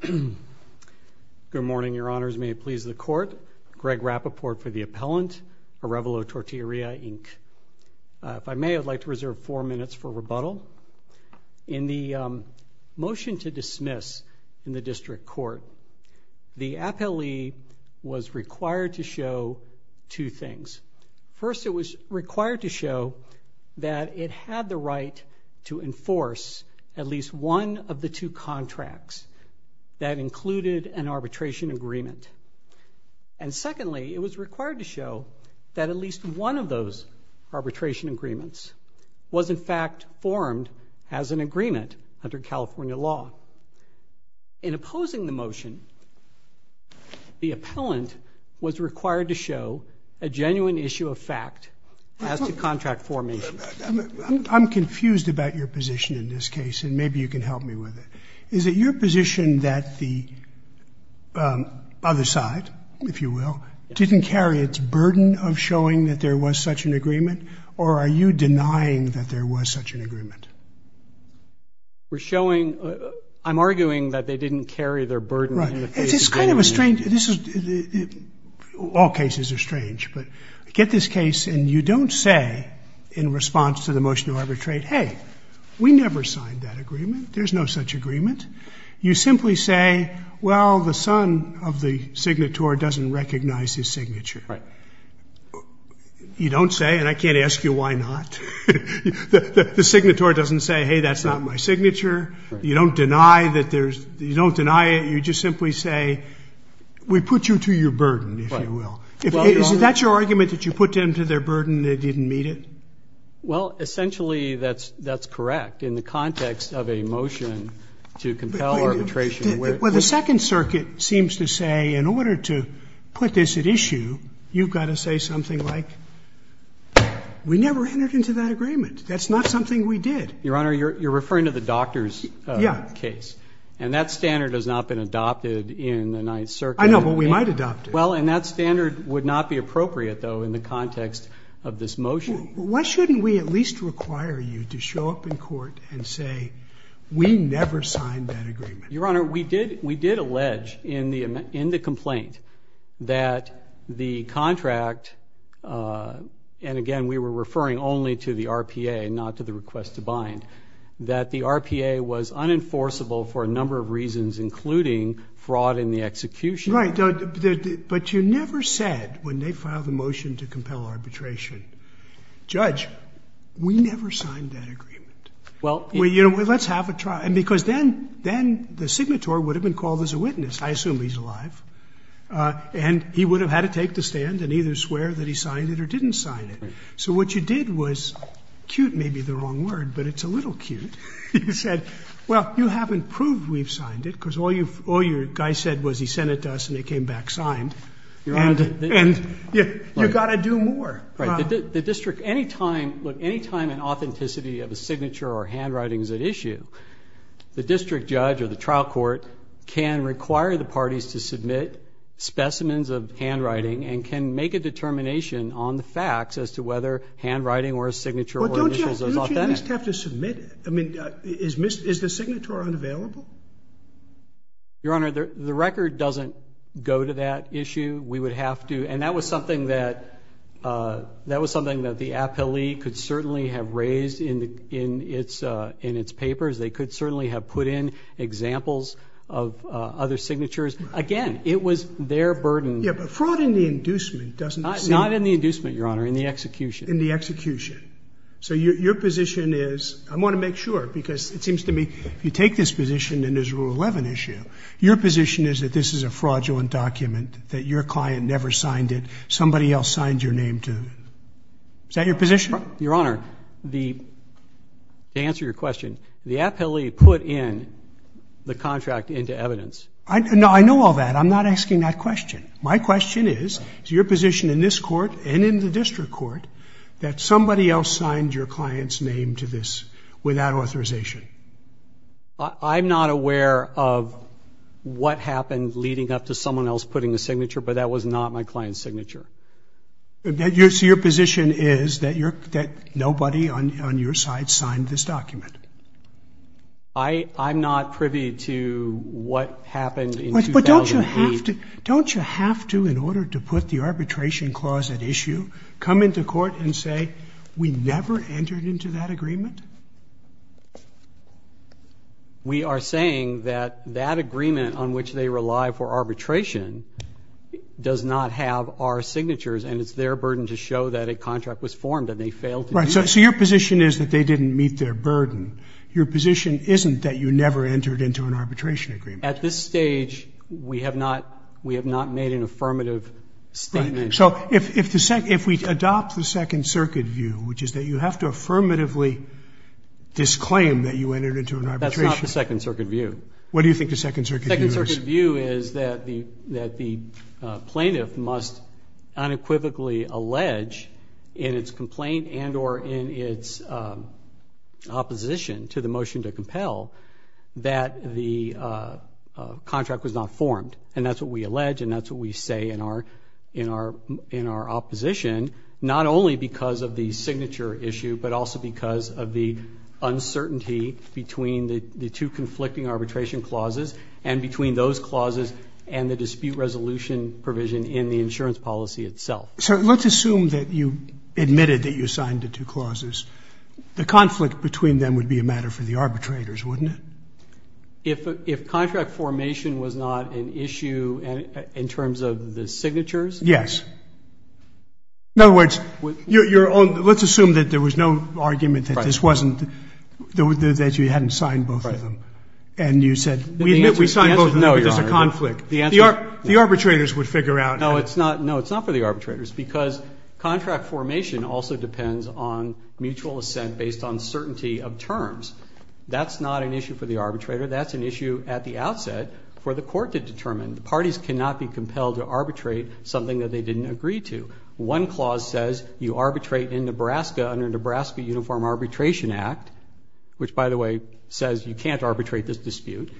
Good morning, Your Honors. May it please the Court, Greg Rapoport for the Appellant, Arevalo Tortilleria, Inc. If I may, I'd like to reserve four minutes for rebuttal. In the motion to dismiss in the District Court, the appellee was required to show two things. First, it was required to show that it had the right to enforce at least one of the two contracts that included an arbitration agreement. And secondly, it was required to show that at least one of those arbitration agreements was, in fact, formed as an agreement under California law. In opposing the motion, the appellant was required to show a genuine issue of fact as to contract formation. I'm confused about your position in this case, and maybe you can help me with it. Is it your position that the other side, if you will, didn't carry its burden of showing that there was such an agreement, or are you denying that there was such an agreement? We're showing, I'm arguing that they didn't carry their burden of showing that there was such an agreement. Right. This is kind of a strange — all cases are strange. But get this case, and you don't say in response to the motion to arbitrate, hey, we never signed that agreement, there's no such agreement. You simply say, well, the son of the signator doesn't recognize his signature. Right. You don't say, and I can't ask you why not, the signator doesn't say, hey, that's not my signature. You don't deny that there's — you don't deny it. You just simply say, we put you to your burden, if you will. Right. Is that your argument, that you put them to their burden, they didn't meet it? Well, essentially, that's correct in the context of a motion to compel arbitration where — Well, the Second Circuit seems to say, in order to put this at issue, you've got to say something like, we never entered into that agreement. That's not something we did. Your Honor, you're referring to the doctor's case. Yeah. And that standard has not been adopted in the Ninth Circuit. I know, but we might adopt it. Well, and that standard would not be appropriate, though, in the context of this motion. Why shouldn't we at least require you to show up in court and say, we never signed that agreement? Your Honor, we did allege in the complaint that the contract — and again, we were referring only to the RPA, not to the request to bind — that the RPA was unenforceable for a number of reasons, including fraud in the execution. Right. But you never said, when they filed the motion to compel arbitration, Judge, we never signed that agreement. Well — Well, you know, let's have a trial. And because then — then the signatory would have been called as a witness. I assume he's alive. And he would have had to take the stand and either swear that he signed it or didn't sign it. Right. So what you did was — cute may be the wrong word, but it's a little cute — you said, well, you haven't proved we've signed it, because all you've — all your guy said was he sent it to us and it came back signed. Your Honor — And you've got to do more. Right. The district — any time — look, any time an authenticity of a signature or handwriting is at issue, the district judge or the trial court can require the parties to submit specimens of handwriting and can make a determination on the facts as to whether handwriting or a signature or initials is authentic. But don't you at least have to submit — I mean, is the signatory unavailable? Your Honor, the record doesn't go to that issue. We would have to — and that was something that — that was something that the appellee could certainly have raised in its papers. They could certainly have put in examples of other signatures. Right. Again, it was their burden. Yeah, but fraud in the inducement doesn't seem — Not in the inducement, Your Honor, in the execution. In the execution. So your position is — I want to make sure, because it seems to me if you take this position and there's a Rule 11 issue, your position is that this is a fraudulent document, that your client never signed it, somebody else signed your name to — is that your position? Your Honor, the — to answer your question, the appellee put in the contract into evidence. No, I know all that. I'm not asking that question. My question is, is your position in this court and in the district court that somebody else signed your client's name to this without authorization? I'm not aware of what happened leading up to someone else putting a signature, but that was not my client's signature. So your position is that nobody on your side signed this document? I — I'm not privy to what happened in 2008. But don't you have to — don't you have to, in order to put the arbitration clause at issue, come into court and say, we never entered into that agreement? We are saying that that agreement on which they rely for arbitration does not have our signatures and it's their burden to show that a contract was formed and they failed to do that. Right. So your position is that they didn't meet their burden. Your position isn't that you never entered into an arbitration agreement? At this stage, we have not — we have not made an affirmative statement. Right. So if — if the — if we adopt the Second Circuit view, which is that you have to affirmatively disclaim that you entered into an arbitration — That's not the Second Circuit view. What do you think the Second Circuit view is? The Second Circuit view is that the — that the plaintiff must unequivocally allege in its complaint and or in its opposition to the motion to compel that the contract was not formed. And that's what we allege and that's what we say in our — in our opposition, not only because of the signature issue, but also because of the uncertainty between the two conflicting arbitration clauses and between those clauses and the dispute resolution provision in the insurance policy itself. So let's assume that you admitted that you signed the two clauses. The conflict between them would be a matter for the arbitrators, wouldn't it? If contract formation was not an issue in terms of the signatures? Yes. In other words, your own — let's assume that there was no argument that this wasn't — that you hadn't signed both of them. And you said, we admit we signed both of them, but there's a conflict. The arbitrators would figure out — No, it's not — no, it's not for the arbitrators, because contract formation also depends on mutual assent based on certainty of terms. That's not an issue for the arbitrator. That's an issue at the outset for the court to determine. The parties cannot be compelled to arbitrate something that they didn't agree to. One clause says you arbitrate in Nebraska under Nebraska Uniform Arbitration Act, which, by the way, says you can't arbitrate this dispute.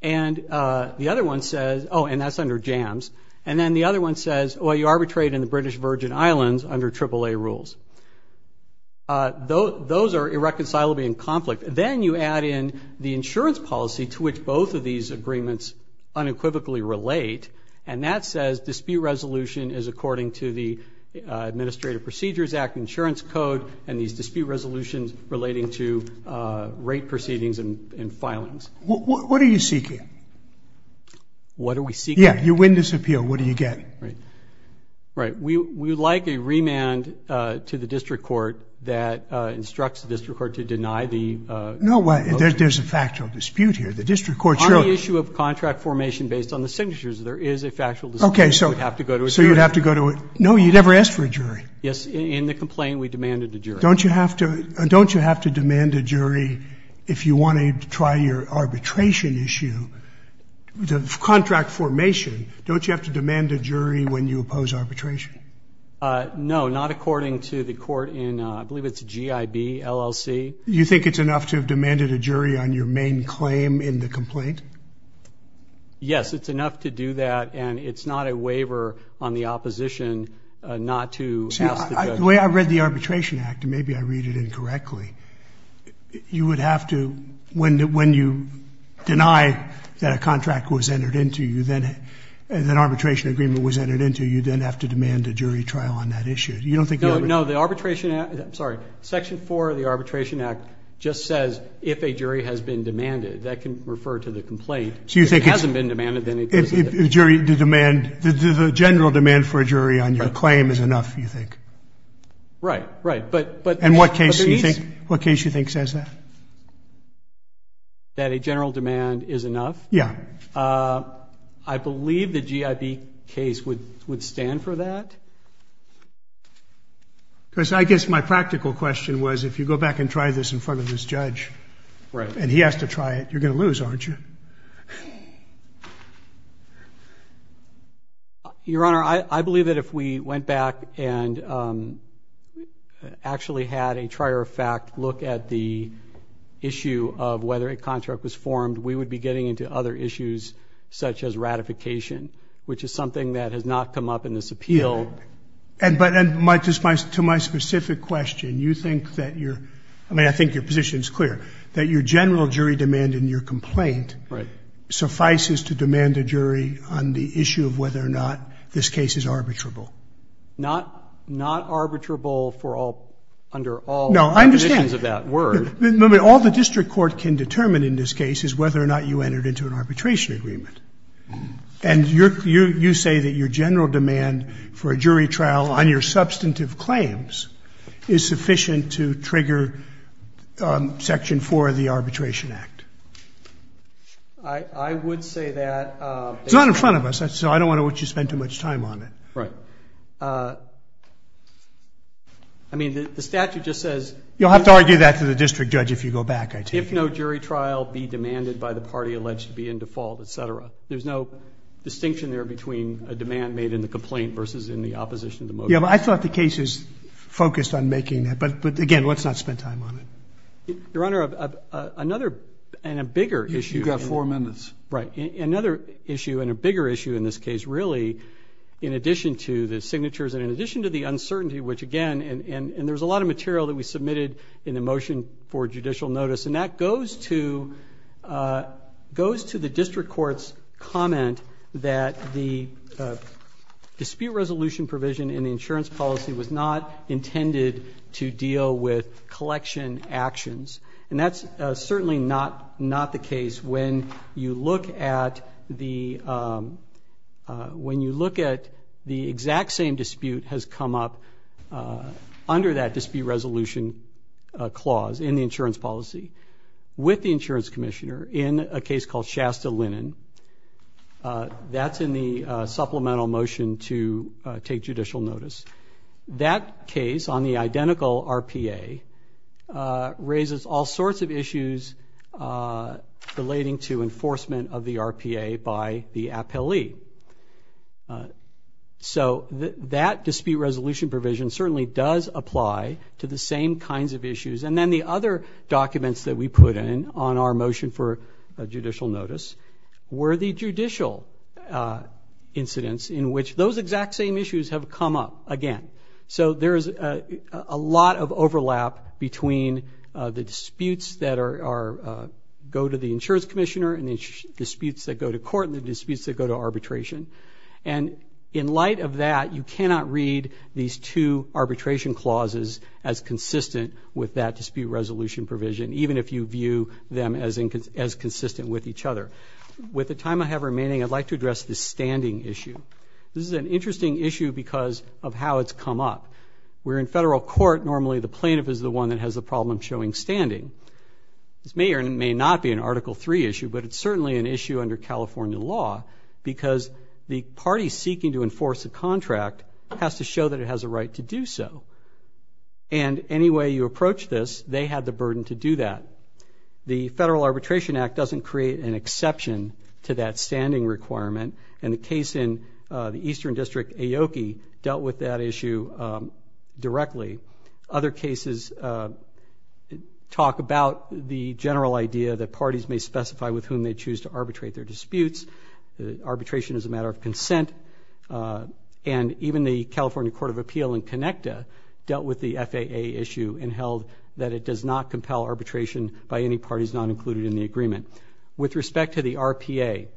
And the other one says — oh, and that's under JAMS. And then the other one says, well, you arbitrate in the British Virgin Islands under AAA rules. Those are irreconcilably in conflict. Then you add in the insurance policy to which both of these agreements unequivocally relate, and that says dispute resolution is according to the Administrative Procedures Act insurance code and these dispute resolutions relating to rate proceedings and filings. What are you seeking? What are we seeking? Yeah, you win this appeal. What do you get? Right. Right. We would like a remand to the district court that instructs the district court to deny the — No way. There's a factual dispute here. The district court should — On the issue of contract formation based on the signatures, there is a factual dispute. Okay, so — You would have to go to a jury. So you would have to go to a — no, you never asked for a jury. Yes, in the complaint, we demanded a jury. Don't you have to — don't you have to demand a jury if you want to try your arbitration issue? The contract formation, don't you have to demand a jury when you oppose arbitration? No, not according to the court in — I believe it's G.I.B., LLC. You think it's enough to have demanded a jury on your main claim in the complaint? Yes, it's enough to do that, and it's not a waiver on the opposition not to ask the judge. See, the way I read the Arbitration Act, and maybe I read it incorrectly, you would have to — when you deny that a contract was entered into you, that an arbitration agreement was entered into, you then have to demand a jury trial on that issue. You don't think — No, no, the Arbitration Act — I'm sorry, Section 4 of the Arbitration Act just says if a jury has been demanded. That can refer to the complaint. So you think it's — If it hasn't been demanded, then it doesn't — If the jury — the demand — the general demand for a jury on your claim is enough, you think? Right. Right. But — What case do you think says that? That a general demand is enough? Yeah. I believe the GIB case would stand for that. Because I guess my practical question was, if you go back and try this in front of this judge — Right. — and he has to try it, you're going to lose, aren't you? Your Honor, I believe that if we went back and actually had a trier-of-fact look at the issue of whether a contract was formed, we would be getting into other issues such as ratification, which is something that has not come up in this appeal. And to my specific question, you think that you're — I mean, I think your position is clear, that your general jury demand in your complaint — Right. — suffices to demand a jury on the issue of whether or not this case is arbitrable. Not arbitrable for all — under all — No, I understand. — conditions of that word. No, but all the district court can determine in this case is whether or not you entered into an arbitration agreement. And you say that your general demand for a jury trial on your substantive claims is sufficient to trigger Section 4 of the Arbitration Act. I would say that — It's not in front of us, so I don't want to watch you spend too much time on it. Right. I mean, the statute just says — You'll have to argue that to the district judge if you go back, I take it. — if no jury trial be demanded by the party alleged to be in default, et cetera. There's no distinction there between a demand made in the complaint versus in the opposition to motion. Yeah, but I thought the case is focused on making that. But, again, let's not spend time on it. Your Honor, another and a bigger issue — You've got four minutes. Right. Another issue and a bigger issue in this case, really, in addition to the signatures and in addition to the uncertainty, which, again — and there's a lot of material that we submitted in the motion for judicial notice, and that goes to the district court's comment that the dispute resolution provision in the insurance policy was not intended to deal with collection actions. And that's certainly not the case when you look at the — when you look at the exact same dispute has come up under that dispute resolution clause in the insurance policy with the insurance commissioner in a case called Shasta Linen. That's in the supplemental motion to take judicial notice. That case on the identical RPA raises all sorts of issues relating to enforcement of the RPA by the appellee. So that dispute resolution provision certainly does apply to the same kinds of issues. And then the other documents that we put in on our motion for judicial notice were the judicial incidents in which those exact same issues have come up again. So there is a lot of overlap between the disputes that are — go to the insurance commissioner and the disputes that go to court and the disputes that go to arbitration. And in light of that, you cannot read these two arbitration clauses as consistent with that dispute resolution provision, even if you view them as consistent with each other. With the time I have remaining, I'd like to address the standing issue. This is an interesting issue because of how it's come up. Where in federal court, normally the plaintiff is the one that has a problem showing standing. This may or may not be an Article III issue, but it's certainly an issue under California law because the party seeking to enforce a contract has to show that it has a right to do so. And any way you approach this, they have the burden to do that. The Federal Arbitration Act doesn't create an exception to that standing requirement, and the case in the Eastern District, Aoki, dealt with that issue directly. Other cases talk about the general idea that parties may specify with whom they choose to arbitrate their disputes. Arbitration is a matter of consent. And even the California Court of Appeal in Conecta dealt with the FAA issue and held that it does not compel arbitration by any parties not included in the agreement. With respect to the RPA,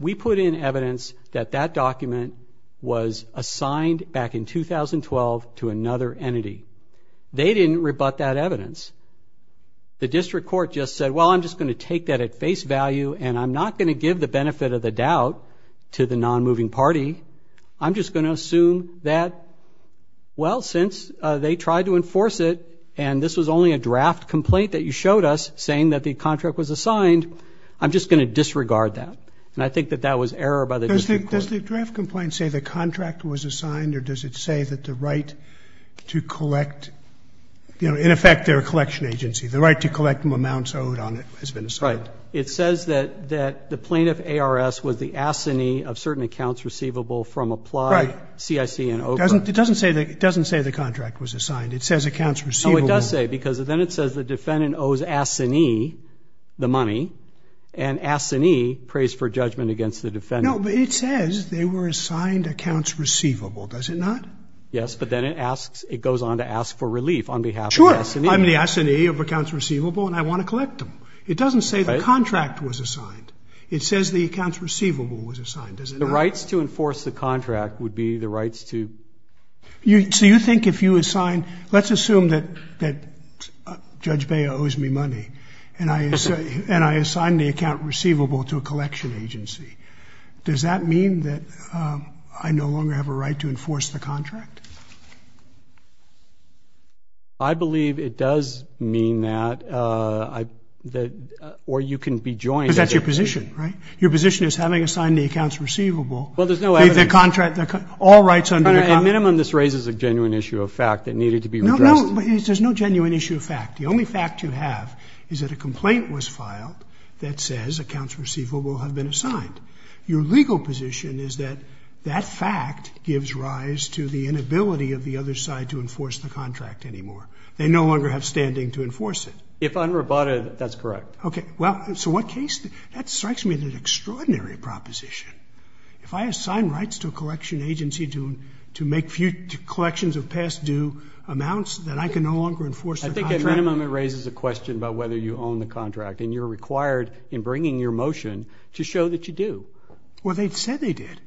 we put in evidence that that document was assigned back in 2012 to another entity. They didn't rebut that evidence. The district court just said, well, I'm just going to take that at face value, and I'm not going to give the benefit of the doubt to the non-moving party. I'm just going to assume that, well, since they tried to enforce it, and this was only a draft complaint that you showed us saying that the contract was assigned, I'm just going to disregard that. And I think that that was error by the district court. Does the draft complaint say the contract was assigned, or does it say that the right to collect, you know, in effect, their collection agency, the right to collect amounts owed on it has been assigned? Right. It says that the plaintiff, ARS, was the assignee of certain accounts receivable from applied CIC and OBRA. It doesn't say the contract was assigned. It says accounts receivable. Oh, it does say, because then it says the defendant owes assignee the money, and assignee prays for judgment against the defendant. No, but it says they were assigned accounts receivable. Does it not? Yes, but then it asks, it goes on to ask for relief on behalf of the assignee. Sure. I'm the assignee of accounts receivable, and I want to collect them. It doesn't say the contract was assigned. It says the accounts receivable was assigned. Does it not? The rights to enforce the contract would be the rights to. So you think if you assign, let's assume that Judge Baya owes me money, and I assign the account receivable to a collection agency, does that mean that I no longer have a right to enforce the contract? I believe it does mean that, or you can be joined. Because that's your position, right? Your position is having assigned the accounts receivable. Well, there's no evidence. The contract, all rights under the contract. At a minimum, this raises a genuine issue of fact that needed to be addressed. No, no, there's no genuine issue of fact. The only fact you have is that a complaint was filed that says accounts receivable have Your legal position is that that fact gives rise to the inability to enforce the contract. The inability of the other side to enforce the contract anymore. They no longer have standing to enforce it. If unroboted, that's correct. Okay. Well, so what case? That strikes me as an extraordinary proposition. If I assign rights to a collection agency to make collections of past due amounts, then I can no longer enforce the contract? I think at a minimum, it raises a question about whether you own the contract, and you're required in bringing your motion to show that you do. Well, they said they did.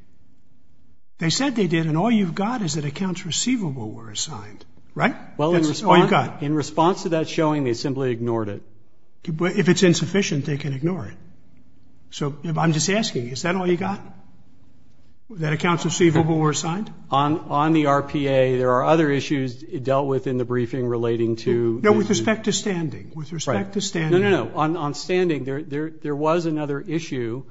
They said they did, and all you've got is that accounts receivable were assigned, right? That's all you've got. Well, in response to that showing, they simply ignored it. If it's insufficient, they can ignore it. So, I'm just asking, is that all you've got? That accounts receivable were assigned? On the RPA, there are other issues dealt with in the briefing relating to No, with respect to standing. With respect to standing. No, no, no. On standing, there was another issue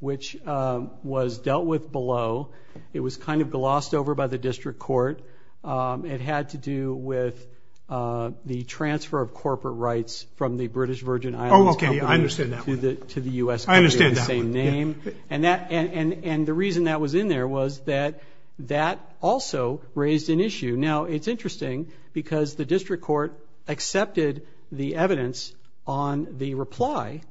which was dealt with below. It was kind of glossed over by the district court. It had to do with the transfer of corporate rights from the British Virgin Islands Company Oh, okay. I understand that one. To the U.S. Company of the same name. I understand that one. And the reason that was in there was that that also raised an issue. Now, it's interesting, because the district court accepted the evidence on the reply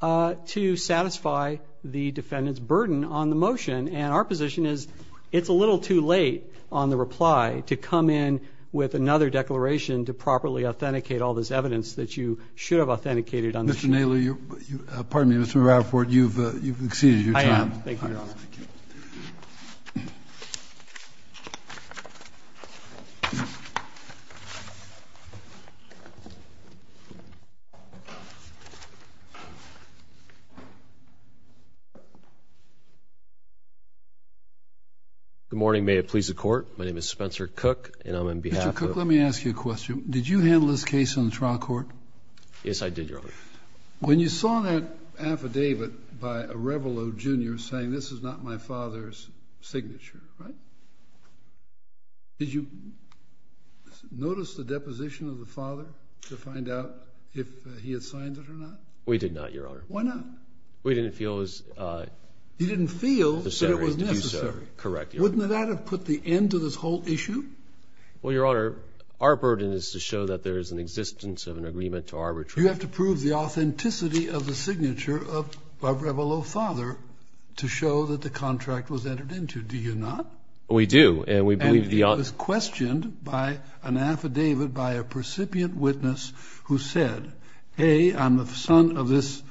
to satisfy the defendant's burden on the motion, and our position is it's a little too late on the reply to come in with another declaration to properly authenticate all this evidence that you should have authenticated on the sheet. Mr. Naylor, pardon me, Mr. Rafford, you've exceeded your time. I am. Thank you, Your Honor. Thank you. Thank you. Good morning. May it please the Court. My name is Spencer Cook, and I'm on behalf of Mr. Cook, let me ask you a question. Did you handle this case on the trial court? Yes, I did, Your Honor. When you saw that affidavit by Arevalo, Jr. saying this is not my father's signature, right? Did you notice the deposition of the father to find out if he had signed it or not? We did not, Your Honor. Why not? We didn't feel it was necessary. He didn't feel that it was necessary. Correct, Your Honor. Wouldn't that have put the end to this whole issue? Well, Your Honor, our burden is to show that there is an existence of an agreement to arbitrate. You have to prove the authenticity of the signature of Arevalo's father to show that the contract was entered into. Do you not? We do. And it was questioned by an affidavit by a percipient witness who said, A, I'm the son of this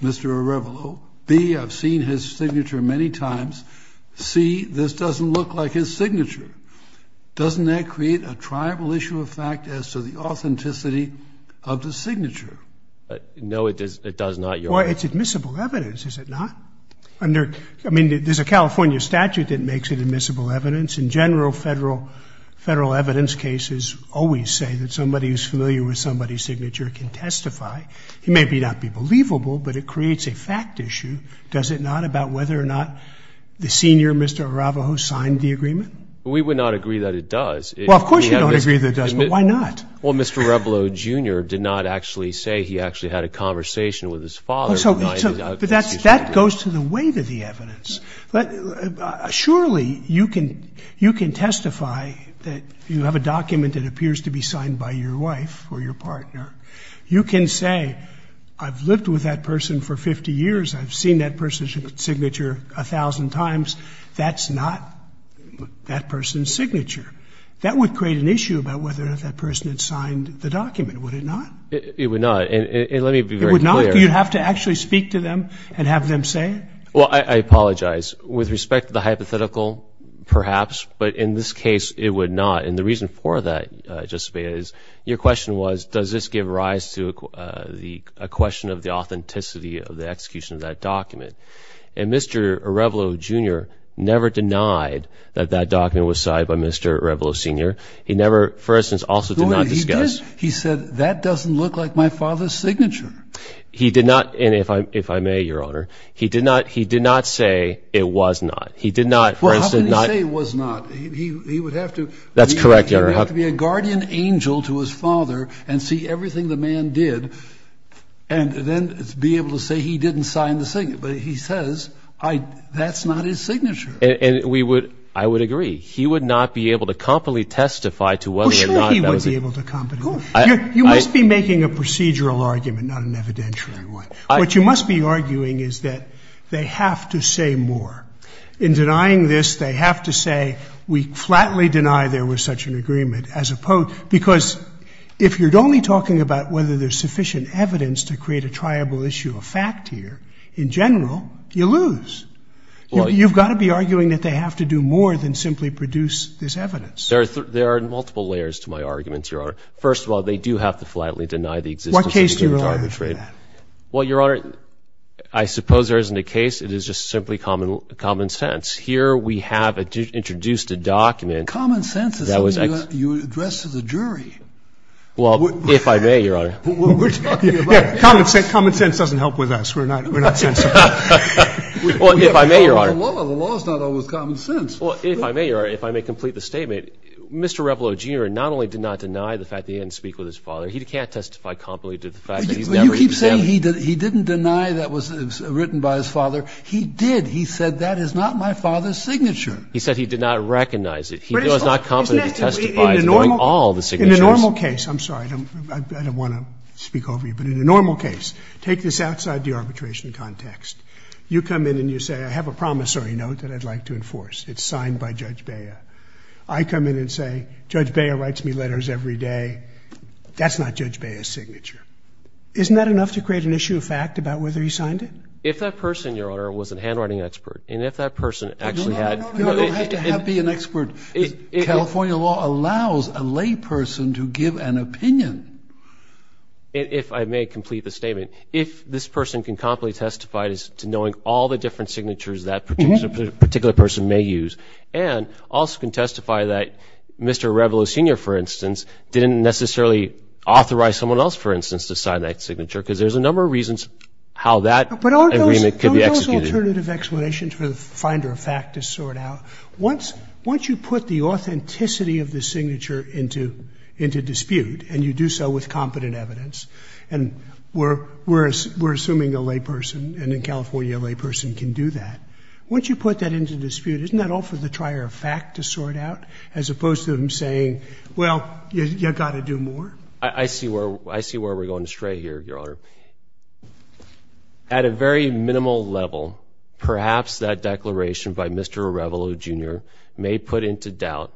Mr. Arevalo. B, I've seen his signature many times. C, this doesn't look like his signature. Doesn't that create a tribal issue of fact as to the authenticity of the signature? No, it does not, Your Honor. Well, it's admissible evidence, is it not? I mean, there's a California statute that makes it admissible evidence. In general, federal evidence cases always say that somebody who's familiar with somebody's signature can testify. It may not be believable, but it creates a fact issue, does it not, about whether or not the senior Mr. Arevalo signed the agreement? We would not agree that it does. Well, of course you don't agree that it does, but why not? Well, Mr. Arevalo, Jr. did not actually say he actually had a conversation with his father. That goes to the weight of the evidence. Surely you can testify that you have a document that appears to be signed by your wife or your partner. You can say, I've lived with that person for 50 years. I've seen that person's signature a thousand times. That's not that person's signature. That would create an issue about whether or not that person had signed the document, would it not? It would not. And let me be very clear. You'd have to actually speak to them and have them say it? Well, I apologize. With respect to the hypothetical, perhaps, but in this case, it would not. And the reason for that, Justice Scalia, is your question was, does this give rise to a question of the authenticity of the execution of that document? And Mr. Arevalo, Jr. never denied that that document was signed by Mr. Arevalo, Sr. He never, for instance, also did not discuss. He said, that doesn't look like my father's signature. He did not, and if I may, Your Honor, he did not say it was not. He did not, for instance, not. Well, how can he say it was not? He would have to. That's correct, Your Honor. He would have to be a guardian angel to his father and see everything the man did and then be able to say he didn't sign the signature. But he says, that's not his signature. And we would, I would agree. He would not be able to competently testify to whether or not that was. He would not be able to competently. You must be making a procedural argument, not an evidentiary one. What you must be arguing is that they have to say more. In denying this, they have to say, we flatly deny there was such an agreement as opposed, because if you're only talking about whether there's sufficient evidence to create a triable issue of fact here, in general, you lose. You've got to be arguing that they have to do more than simply produce this evidence. There are multiple layers to my arguments, Your Honor. First of all, they do have to flatly deny the existence of the agreement. What case do you rely on for that? Well, Your Honor, I suppose there isn't a case. It is just simply common sense. Here we have introduced a document that was ex- Common sense is something you address to the jury. Well, if I may, Your Honor. We're talking about a case. Common sense doesn't help with us. We're not sensible. Well, if I may, Your Honor. The law is not always common sense. Well, if I may, Your Honor, if I may complete the statement, Mr. Revelleau, Jr., not only did not deny the fact that he didn't speak with his father, he can't testify competently to the fact that he's never examined it. You keep saying he didn't deny that it was written by his father. He did. He said that is not my father's signature. He said he did not recognize it. He was not competent to testify to knowing all the signatures. In a normal case, I'm sorry. I don't want to speak over you. But in a normal case, take this outside the arbitration context. You come in and you say, I have a promissory note that I'd like to enforce. It's signed by Judge Bea. I come in and say, Judge Bea writes me letters every day. That's not Judge Bea's signature. Isn't that enough to create an issue of fact about whether he signed it? If that person, Your Honor, was a handwriting expert, and if that person actually had to be an expert, California law allows a layperson to give an opinion. If I may complete the statement, if this person can competently testify to knowing all the different signatures that particular person may use, and also can testify that Mr. Arevalo, Sr., for instance, didn't necessarily authorize someone else, for instance, to sign that signature, because there's a number of reasons how that agreement could be executed. Aren't those alternative explanations for the finder of fact to sort out? Once you put the authenticity of the signature into dispute, and you do so with competent evidence, and we're assuming a layperson, and a California layperson can do that, once you put that into dispute, isn't that all for the trier of fact to sort out, as opposed to him saying, well, you've got to do more? I see where we're going astray here, Your Honor. At a very minimal level, perhaps that declaration by Mr. Arevalo, Jr. may put into doubt,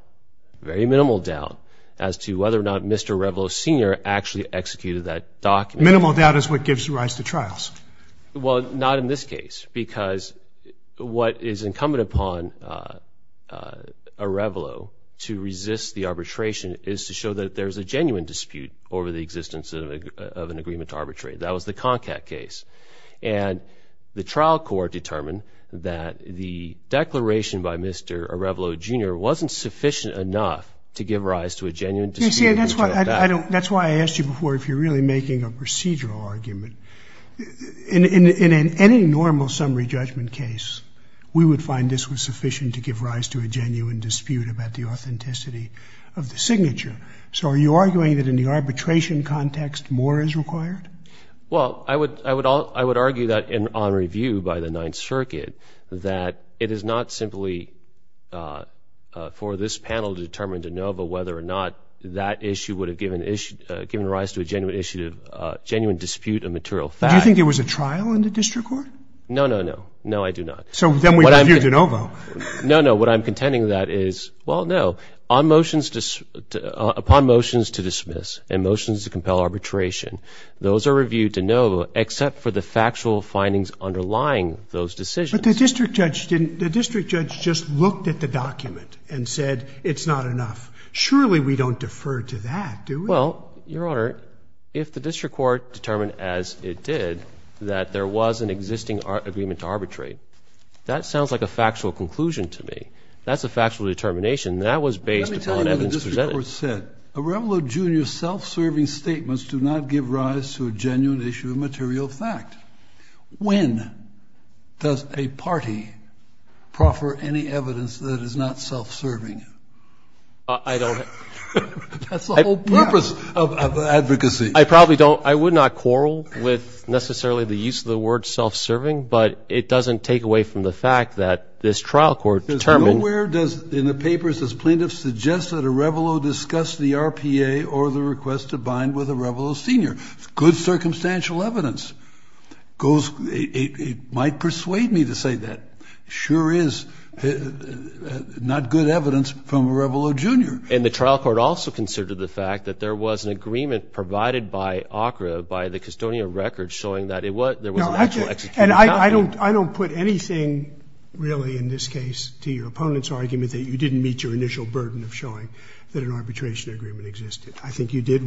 very minimal doubt, as to whether or not Mr. Arevalo, Sr. actually executed that document. Minimal doubt is what gives rise to trials. Well, not in this case, because what is incumbent upon Arevalo to resist the arbitration is to show that there's a genuine dispute over the existence of an agreement to arbitrate. That was the Concat case. And the trial court determined that the declaration by Mr. Arevalo, Jr. wasn't sufficient enough to give rise to a genuine dispute. That's why I asked you before if you're really making a procedural argument. In any normal summary judgment case, we would find this was sufficient to give rise to a genuine dispute about the authenticity of the signature. So are you arguing that in the arbitration context, more is required? Well, I would argue that on review by the Ninth Circuit, that it is not simply for this panel to determine de novo whether or not that issue would have given rise to a genuine dispute of material fact. Do you think there was a trial in the district court? No, no, no. No, I do not. So then we review de novo. No, no. What I'm contending that is, well, no. Upon motions to dismiss and motions to compel arbitration, those are reviewed de novo, except for the factual findings underlying those decisions. But the district judge just looked at the document and said it's not enough. Surely we don't defer to that, do we? Well, Your Honor, if the district court determined as it did that there was an existing agreement to arbitrate, that sounds like a factual conclusion to me. That's a factual determination. That was based upon evidence presented. Let me tell you what the district court said. Arevalo, Jr.'s self-serving statements do not give rise to a genuine issue of material fact. When does a party proffer any evidence that is not self-serving? I don't. That's the whole purpose of advocacy. I probably don't. I would not quarrel with necessarily the use of the word self-serving, but it doesn't take away from the fact that this trial court determined. Nowhere in the papers does plaintiff suggest that Arevalo discussed the RPA or the request to bind with Arevalo, Sr. It's good circumstantial evidence. It might persuade me to say that. It sure is not good evidence from Arevalo, Jr. And the trial court also considered the fact that there was an agreement provided by ACRA by the custodian of records showing that there was an actual execution. And I don't put anything really in this case to your opponent's argument that you didn't meet your initial burden of showing that an arbitration agreement existed. I think you did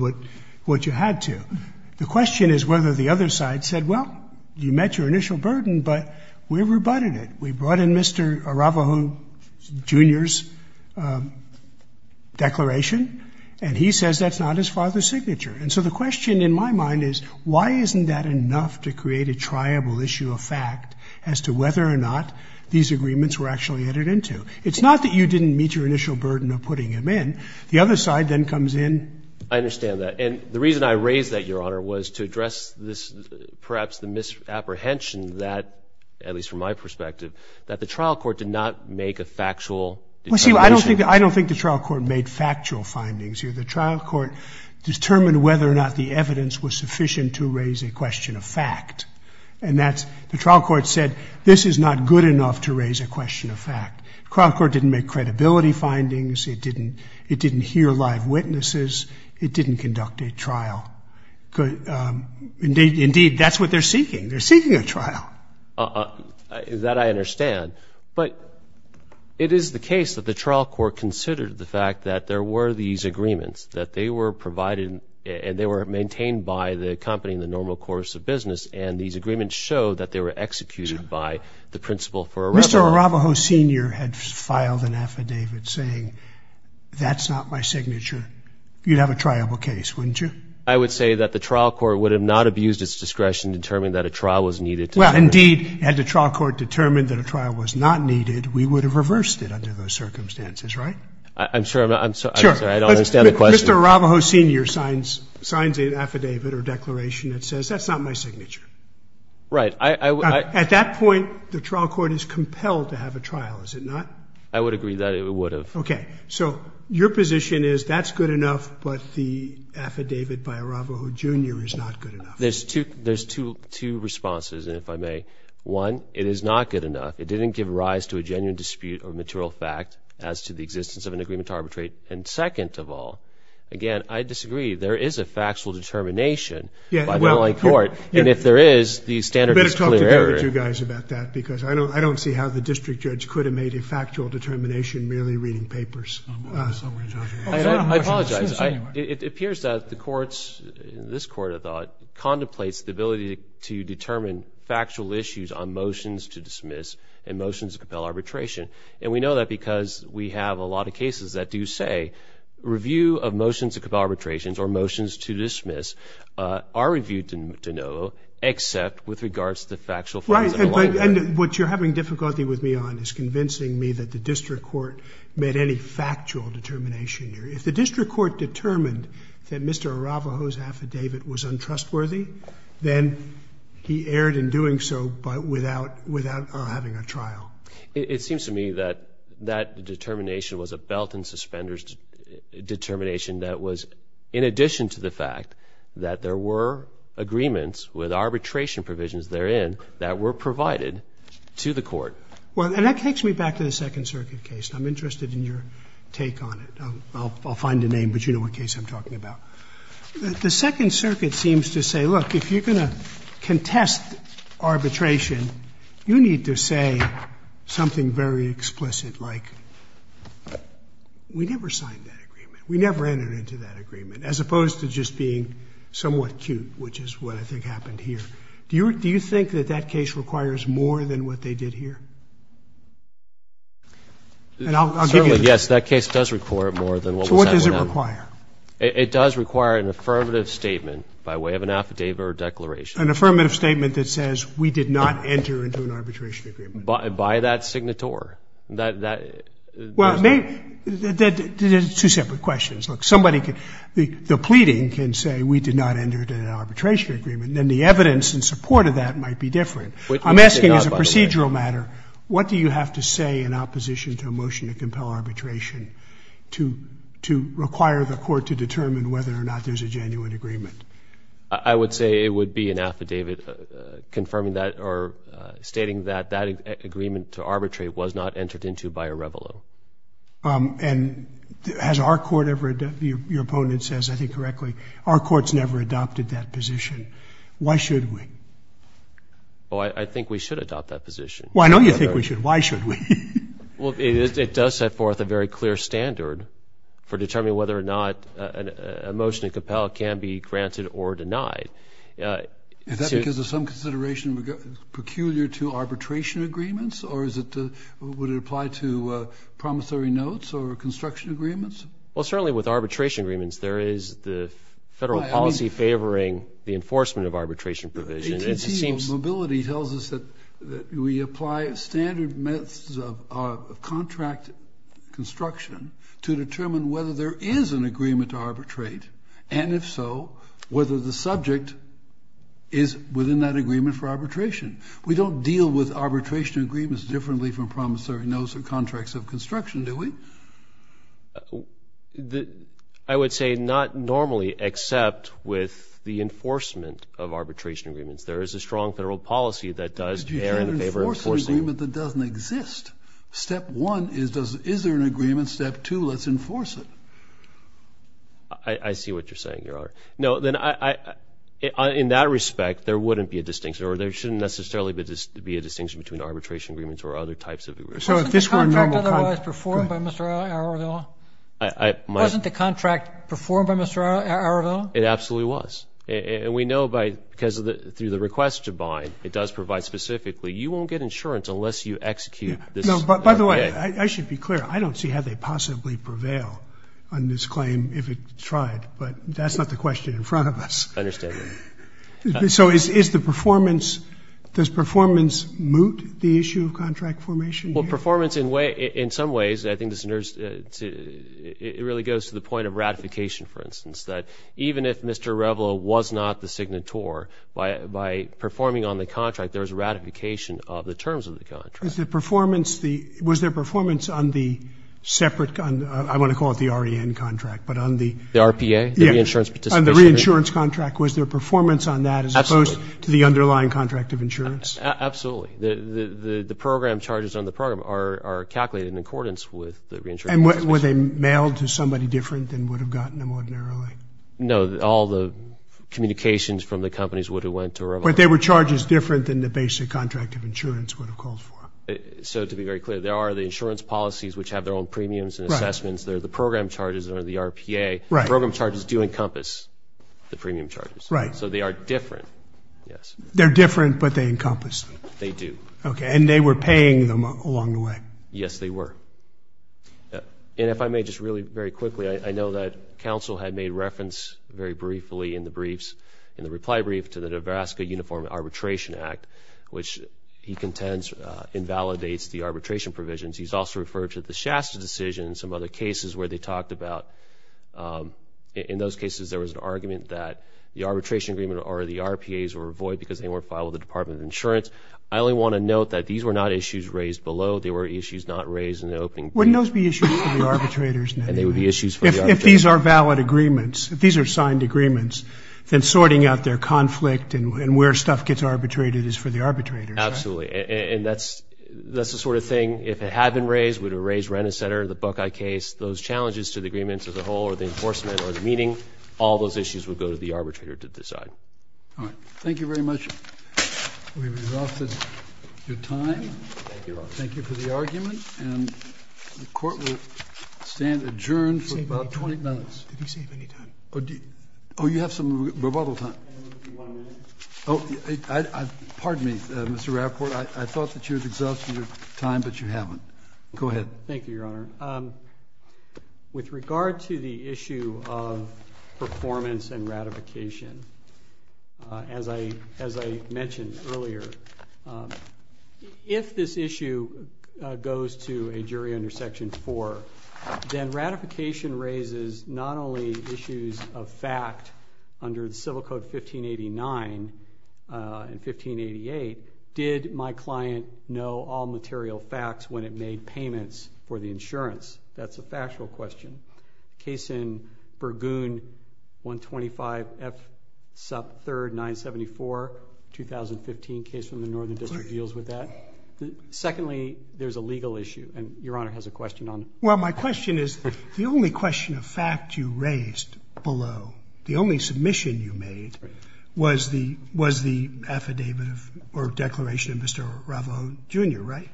what you had to. The question is whether the other side said, well, you met your initial burden, but we rebutted it. We brought in Mr. Arevalo, Jr.'s declaration, and he says that's not his father's signature. And so the question in my mind is, why isn't that enough to create a triable issue of fact as to whether or not these agreements were actually entered into? It's not that you didn't meet your initial burden of putting him in. The other side then comes in. I understand that. And the reason I raise that, Your Honor, was to address this, perhaps, the misapprehension that, at least from my perspective, that the trial court did not make a factual determination. Well, see, I don't think the trial court made factual findings here. The trial court determined whether or not the evidence was sufficient to raise a question of fact, and that's the trial court said this is not good enough to raise a question of fact. The trial court didn't make credibility findings. It didn't hear live witnesses. It didn't conduct a trial. Indeed, that's what they're seeking. They're seeking a trial. That I understand. But it is the case that the trial court considered the fact that there were these agreements, that they were provided and they were maintained by the company in the normal course of business, and these agreements show that they were executed by the principal for Arevalo. If Mr. Arevalo Sr. had filed an affidavit saying that's not my signature, you'd have a triable case, wouldn't you? I would say that the trial court would have not abused its discretion to determine that a trial was needed. Well, indeed, had the trial court determined that a trial was not needed, we would have reversed it under those circumstances, right? I'm sorry, I don't understand the question. Mr. Arevalo Sr. signs an affidavit or declaration that says that's not my signature. Right. At that point, the trial court is compelled to have a trial, is it not? I would agree that it would have. Okay. So your position is that's good enough, but the affidavit by Arevalo Jr. is not good enough. There's two responses, if I may. One, it is not good enough. It didn't give rise to a genuine dispute or material fact as to the existence of an agreement to arbitrate. And second of all, again, I disagree. There is a factual determination by the LA court, and if there is, the standard is clear. I better talk to the other two guys about that because I don't see how the district judge could have made a factual determination merely reading papers. I apologize. It appears that the courts, this court, I thought, contemplates the ability to determine factual issues on motions to dismiss and motions to compel arbitration. And we know that because we have a lot of cases that do say review of motions to compel arbitrations or motions to dismiss are reviewed de novo except with regards to factual facts. And what you're having difficulty with me on is convincing me that the district court made any factual determination here. If the district court determined that Mr. Arevalo's affidavit was untrustworthy, then he erred in doing so without having a trial. It seems to me that that determination was a belt and suspenders determination that was in addition to the fact that there were agreements with arbitration provisions therein that were provided to the court. Well, and that takes me back to the Second Circuit case. I'm interested in your take on it. I'll find a name, but you know what case I'm talking about. The Second Circuit seems to say, look, if you're going to contest arbitration, you need to say something very explicit like, we never signed that agreement. We never entered into that agreement, as opposed to just being somewhat cute, which is what I think happened here. Do you think that that case requires more than what they did here? And I'll give you the answer. Certainly, yes, that case does require more than what was happened. So what does it require? It does require an affirmative statement by way of an affidavit or declaration. An affirmative statement that says we did not enter into an arbitration agreement. By that signator. Well, there's two separate questions. Look, the pleading can say we did not enter into an arbitration agreement. Then the evidence in support of that might be different. I'm asking as a procedural matter, what do you have to say in opposition to a motion to compel arbitration to require the court to determine whether or not there's a genuine agreement? I would say it would be an affidavit confirming that or stating that that agreement to arbitrate was not entered into by a rebel. And has our court ever, your opponent says, I think correctly, our court's never adopted that position. Why should we? Well, I think we should adopt that position. Well, I know you think we should. Why should we? Well, it does set forth a very clear standard for determining whether or not a motion to compel can be granted or denied. Is that because of some consideration peculiar to arbitration agreements or would it apply to promissory notes or construction agreements? Well, certainly with arbitration agreements, there is the federal policy favoring the enforcement of arbitration provisions. AT&T Mobility tells us that we apply standard methods of contract construction to determine whether there is an agreement to arbitrate, and if so, whether the subject is within that agreement for arbitration. We don't deal with arbitration agreements differently from promissory notes or contracts of construction, do we? I would say not normally except with the enforcement of arbitration agreements. There is a strong federal policy that does bear in favor of enforcing. But you can't enforce an agreement that doesn't exist. Step one is, is there an agreement? Step two, let's enforce it. I see what you're saying, Your Honor. No, then in that respect, there wouldn't be a distinction or there shouldn't necessarily be a distinction between arbitration agreements or other types of agreements. Wasn't the contract otherwise performed by Mr. Arevala? Wasn't the contract performed by Mr. Arevala? It absolutely was. And we know because through the request to bind, it does provide specifically, you won't get insurance unless you execute this. By the way, I should be clear. I don't see how they possibly prevail on this claim if it tried, but that's not the question in front of us. I understand. So is the performance, does performance moot the issue of contract formation? Well, performance in some ways, I think it really goes to the point of ratification, for instance, that even if Mr. Arevala was not the signator, by performing on the contract, there's ratification of the terms of the contract. Was there performance on the separate, I want to call it the REN contract, but on the? The RPA, the reinsurance participation. The reinsurance contract. Was there performance on that as opposed to the underlying contract of insurance? Absolutely. The program charges on the program are calculated in accordance with the reinsurance. And were they mailed to somebody different than would have gotten them ordinarily? No. All the communications from the companies would have went to Arevala. But they were charges different than the basic contract of insurance would have called for. So to be very clear, there are the insurance policies which have their own premiums and assessments. There are the program charges under the RPA. Program charges do encompass the premium charges. Right. So they are different, yes. They're different, but they encompass them. They do. Okay, and they were paying them along the way. Yes, they were. And if I may just really very quickly, I know that counsel had made reference very briefly in the briefs, in the reply brief to the Nebraska Uniform Arbitration Act, which he contends invalidates the arbitration provisions. He's also referred to the Shasta decision and some other cases where they talked about, in those cases there was an argument that the arbitration agreement or the RPAs were void because they weren't filed with the Department of Insurance. I only want to note that these were not issues raised below. They were issues not raised in the opening. Wouldn't those be issues for the arbitrators? And they would be issues for the arbitrators. If these are valid agreements, if these are signed agreements, then sorting out their conflict and where stuff gets arbitrated is for the arbitrators. Absolutely. And that's the sort of thing, if it had been raised, it would have raised Rennes Center, the Buckeye case, those challenges to the agreements as a whole or the enforcement or the meeting, all those issues would go to the arbitrator to decide. All right. Thank you very much. We've exhausted your time. Thank you. Thank you for the argument. And the Court will stand adjourned for about 20 minutes. Did we save any time? Oh, you have some rebuttal time. I have one minute. Oh, pardon me, Mr. Rafford. I thought that you had exhausted your time, but you haven't. Go ahead. Thank you, Your Honor. With regard to the issue of performance and ratification, as I mentioned earlier, if this issue goes to a jury under Section 4, then ratification raises not only issues of fact under the Civil Code 1589 and 1588, did my client know all material facts when it made payments for the insurance? That's a factual question. The case in Bergoon 125F sub 3rd 974, 2015 case from the Northern District, deals with that. Secondly, there's a legal issue, and Your Honor has a question on it. Well, my question is, the only question of fact you raised below, the only submission you made, was the affidavit or declaration of Mr. Ravo, Jr., right?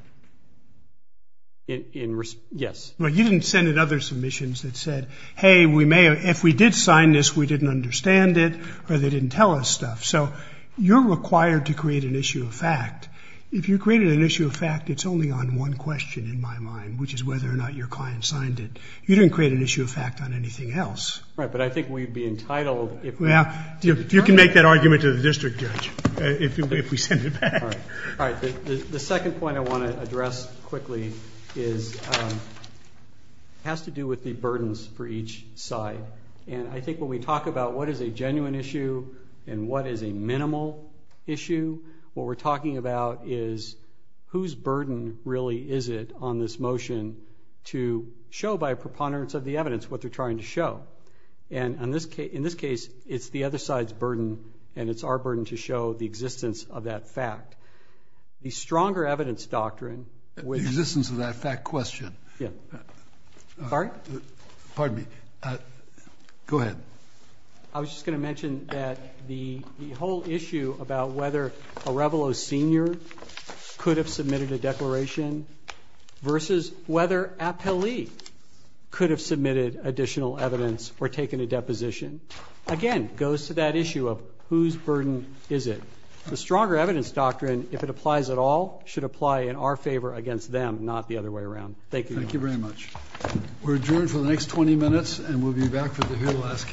Yes. Well, you didn't send in other submissions that said, hey, if we did sign this, we didn't understand it, or they didn't tell us stuff. So you're required to create an issue of fact. If you created an issue of fact, it's only on one question in my mind, which is whether or not your client signed it. You didn't create an issue of fact on anything else. Right, but I think we'd be entitled if we did. You can make that argument to the district judge if we send it back. All right. The second point I want to address quickly has to do with the burdens for each side. And I think when we talk about what is a genuine issue and what is a minimal issue, what we're talking about is whose burden really is it on this motion to show by preponderance of the evidence what they're trying to show. And it's our burden to show the existence of that fact. The stronger evidence doctrine, which – The existence of that fact question. Yeah. Pardon? Pardon me. Go ahead. I was just going to mention that the whole issue about whether Arevalo, Sr. could have submitted a declaration versus whether Appellee could have submitted additional evidence or taken a deposition. Again, it goes to that issue of whose burden is it. The stronger evidence doctrine, if it applies at all, should apply in our favor against them, not the other way around. Thank you. Thank you very much. We're adjourned for the next 20 minutes, and we'll be back for the very last case. All rise.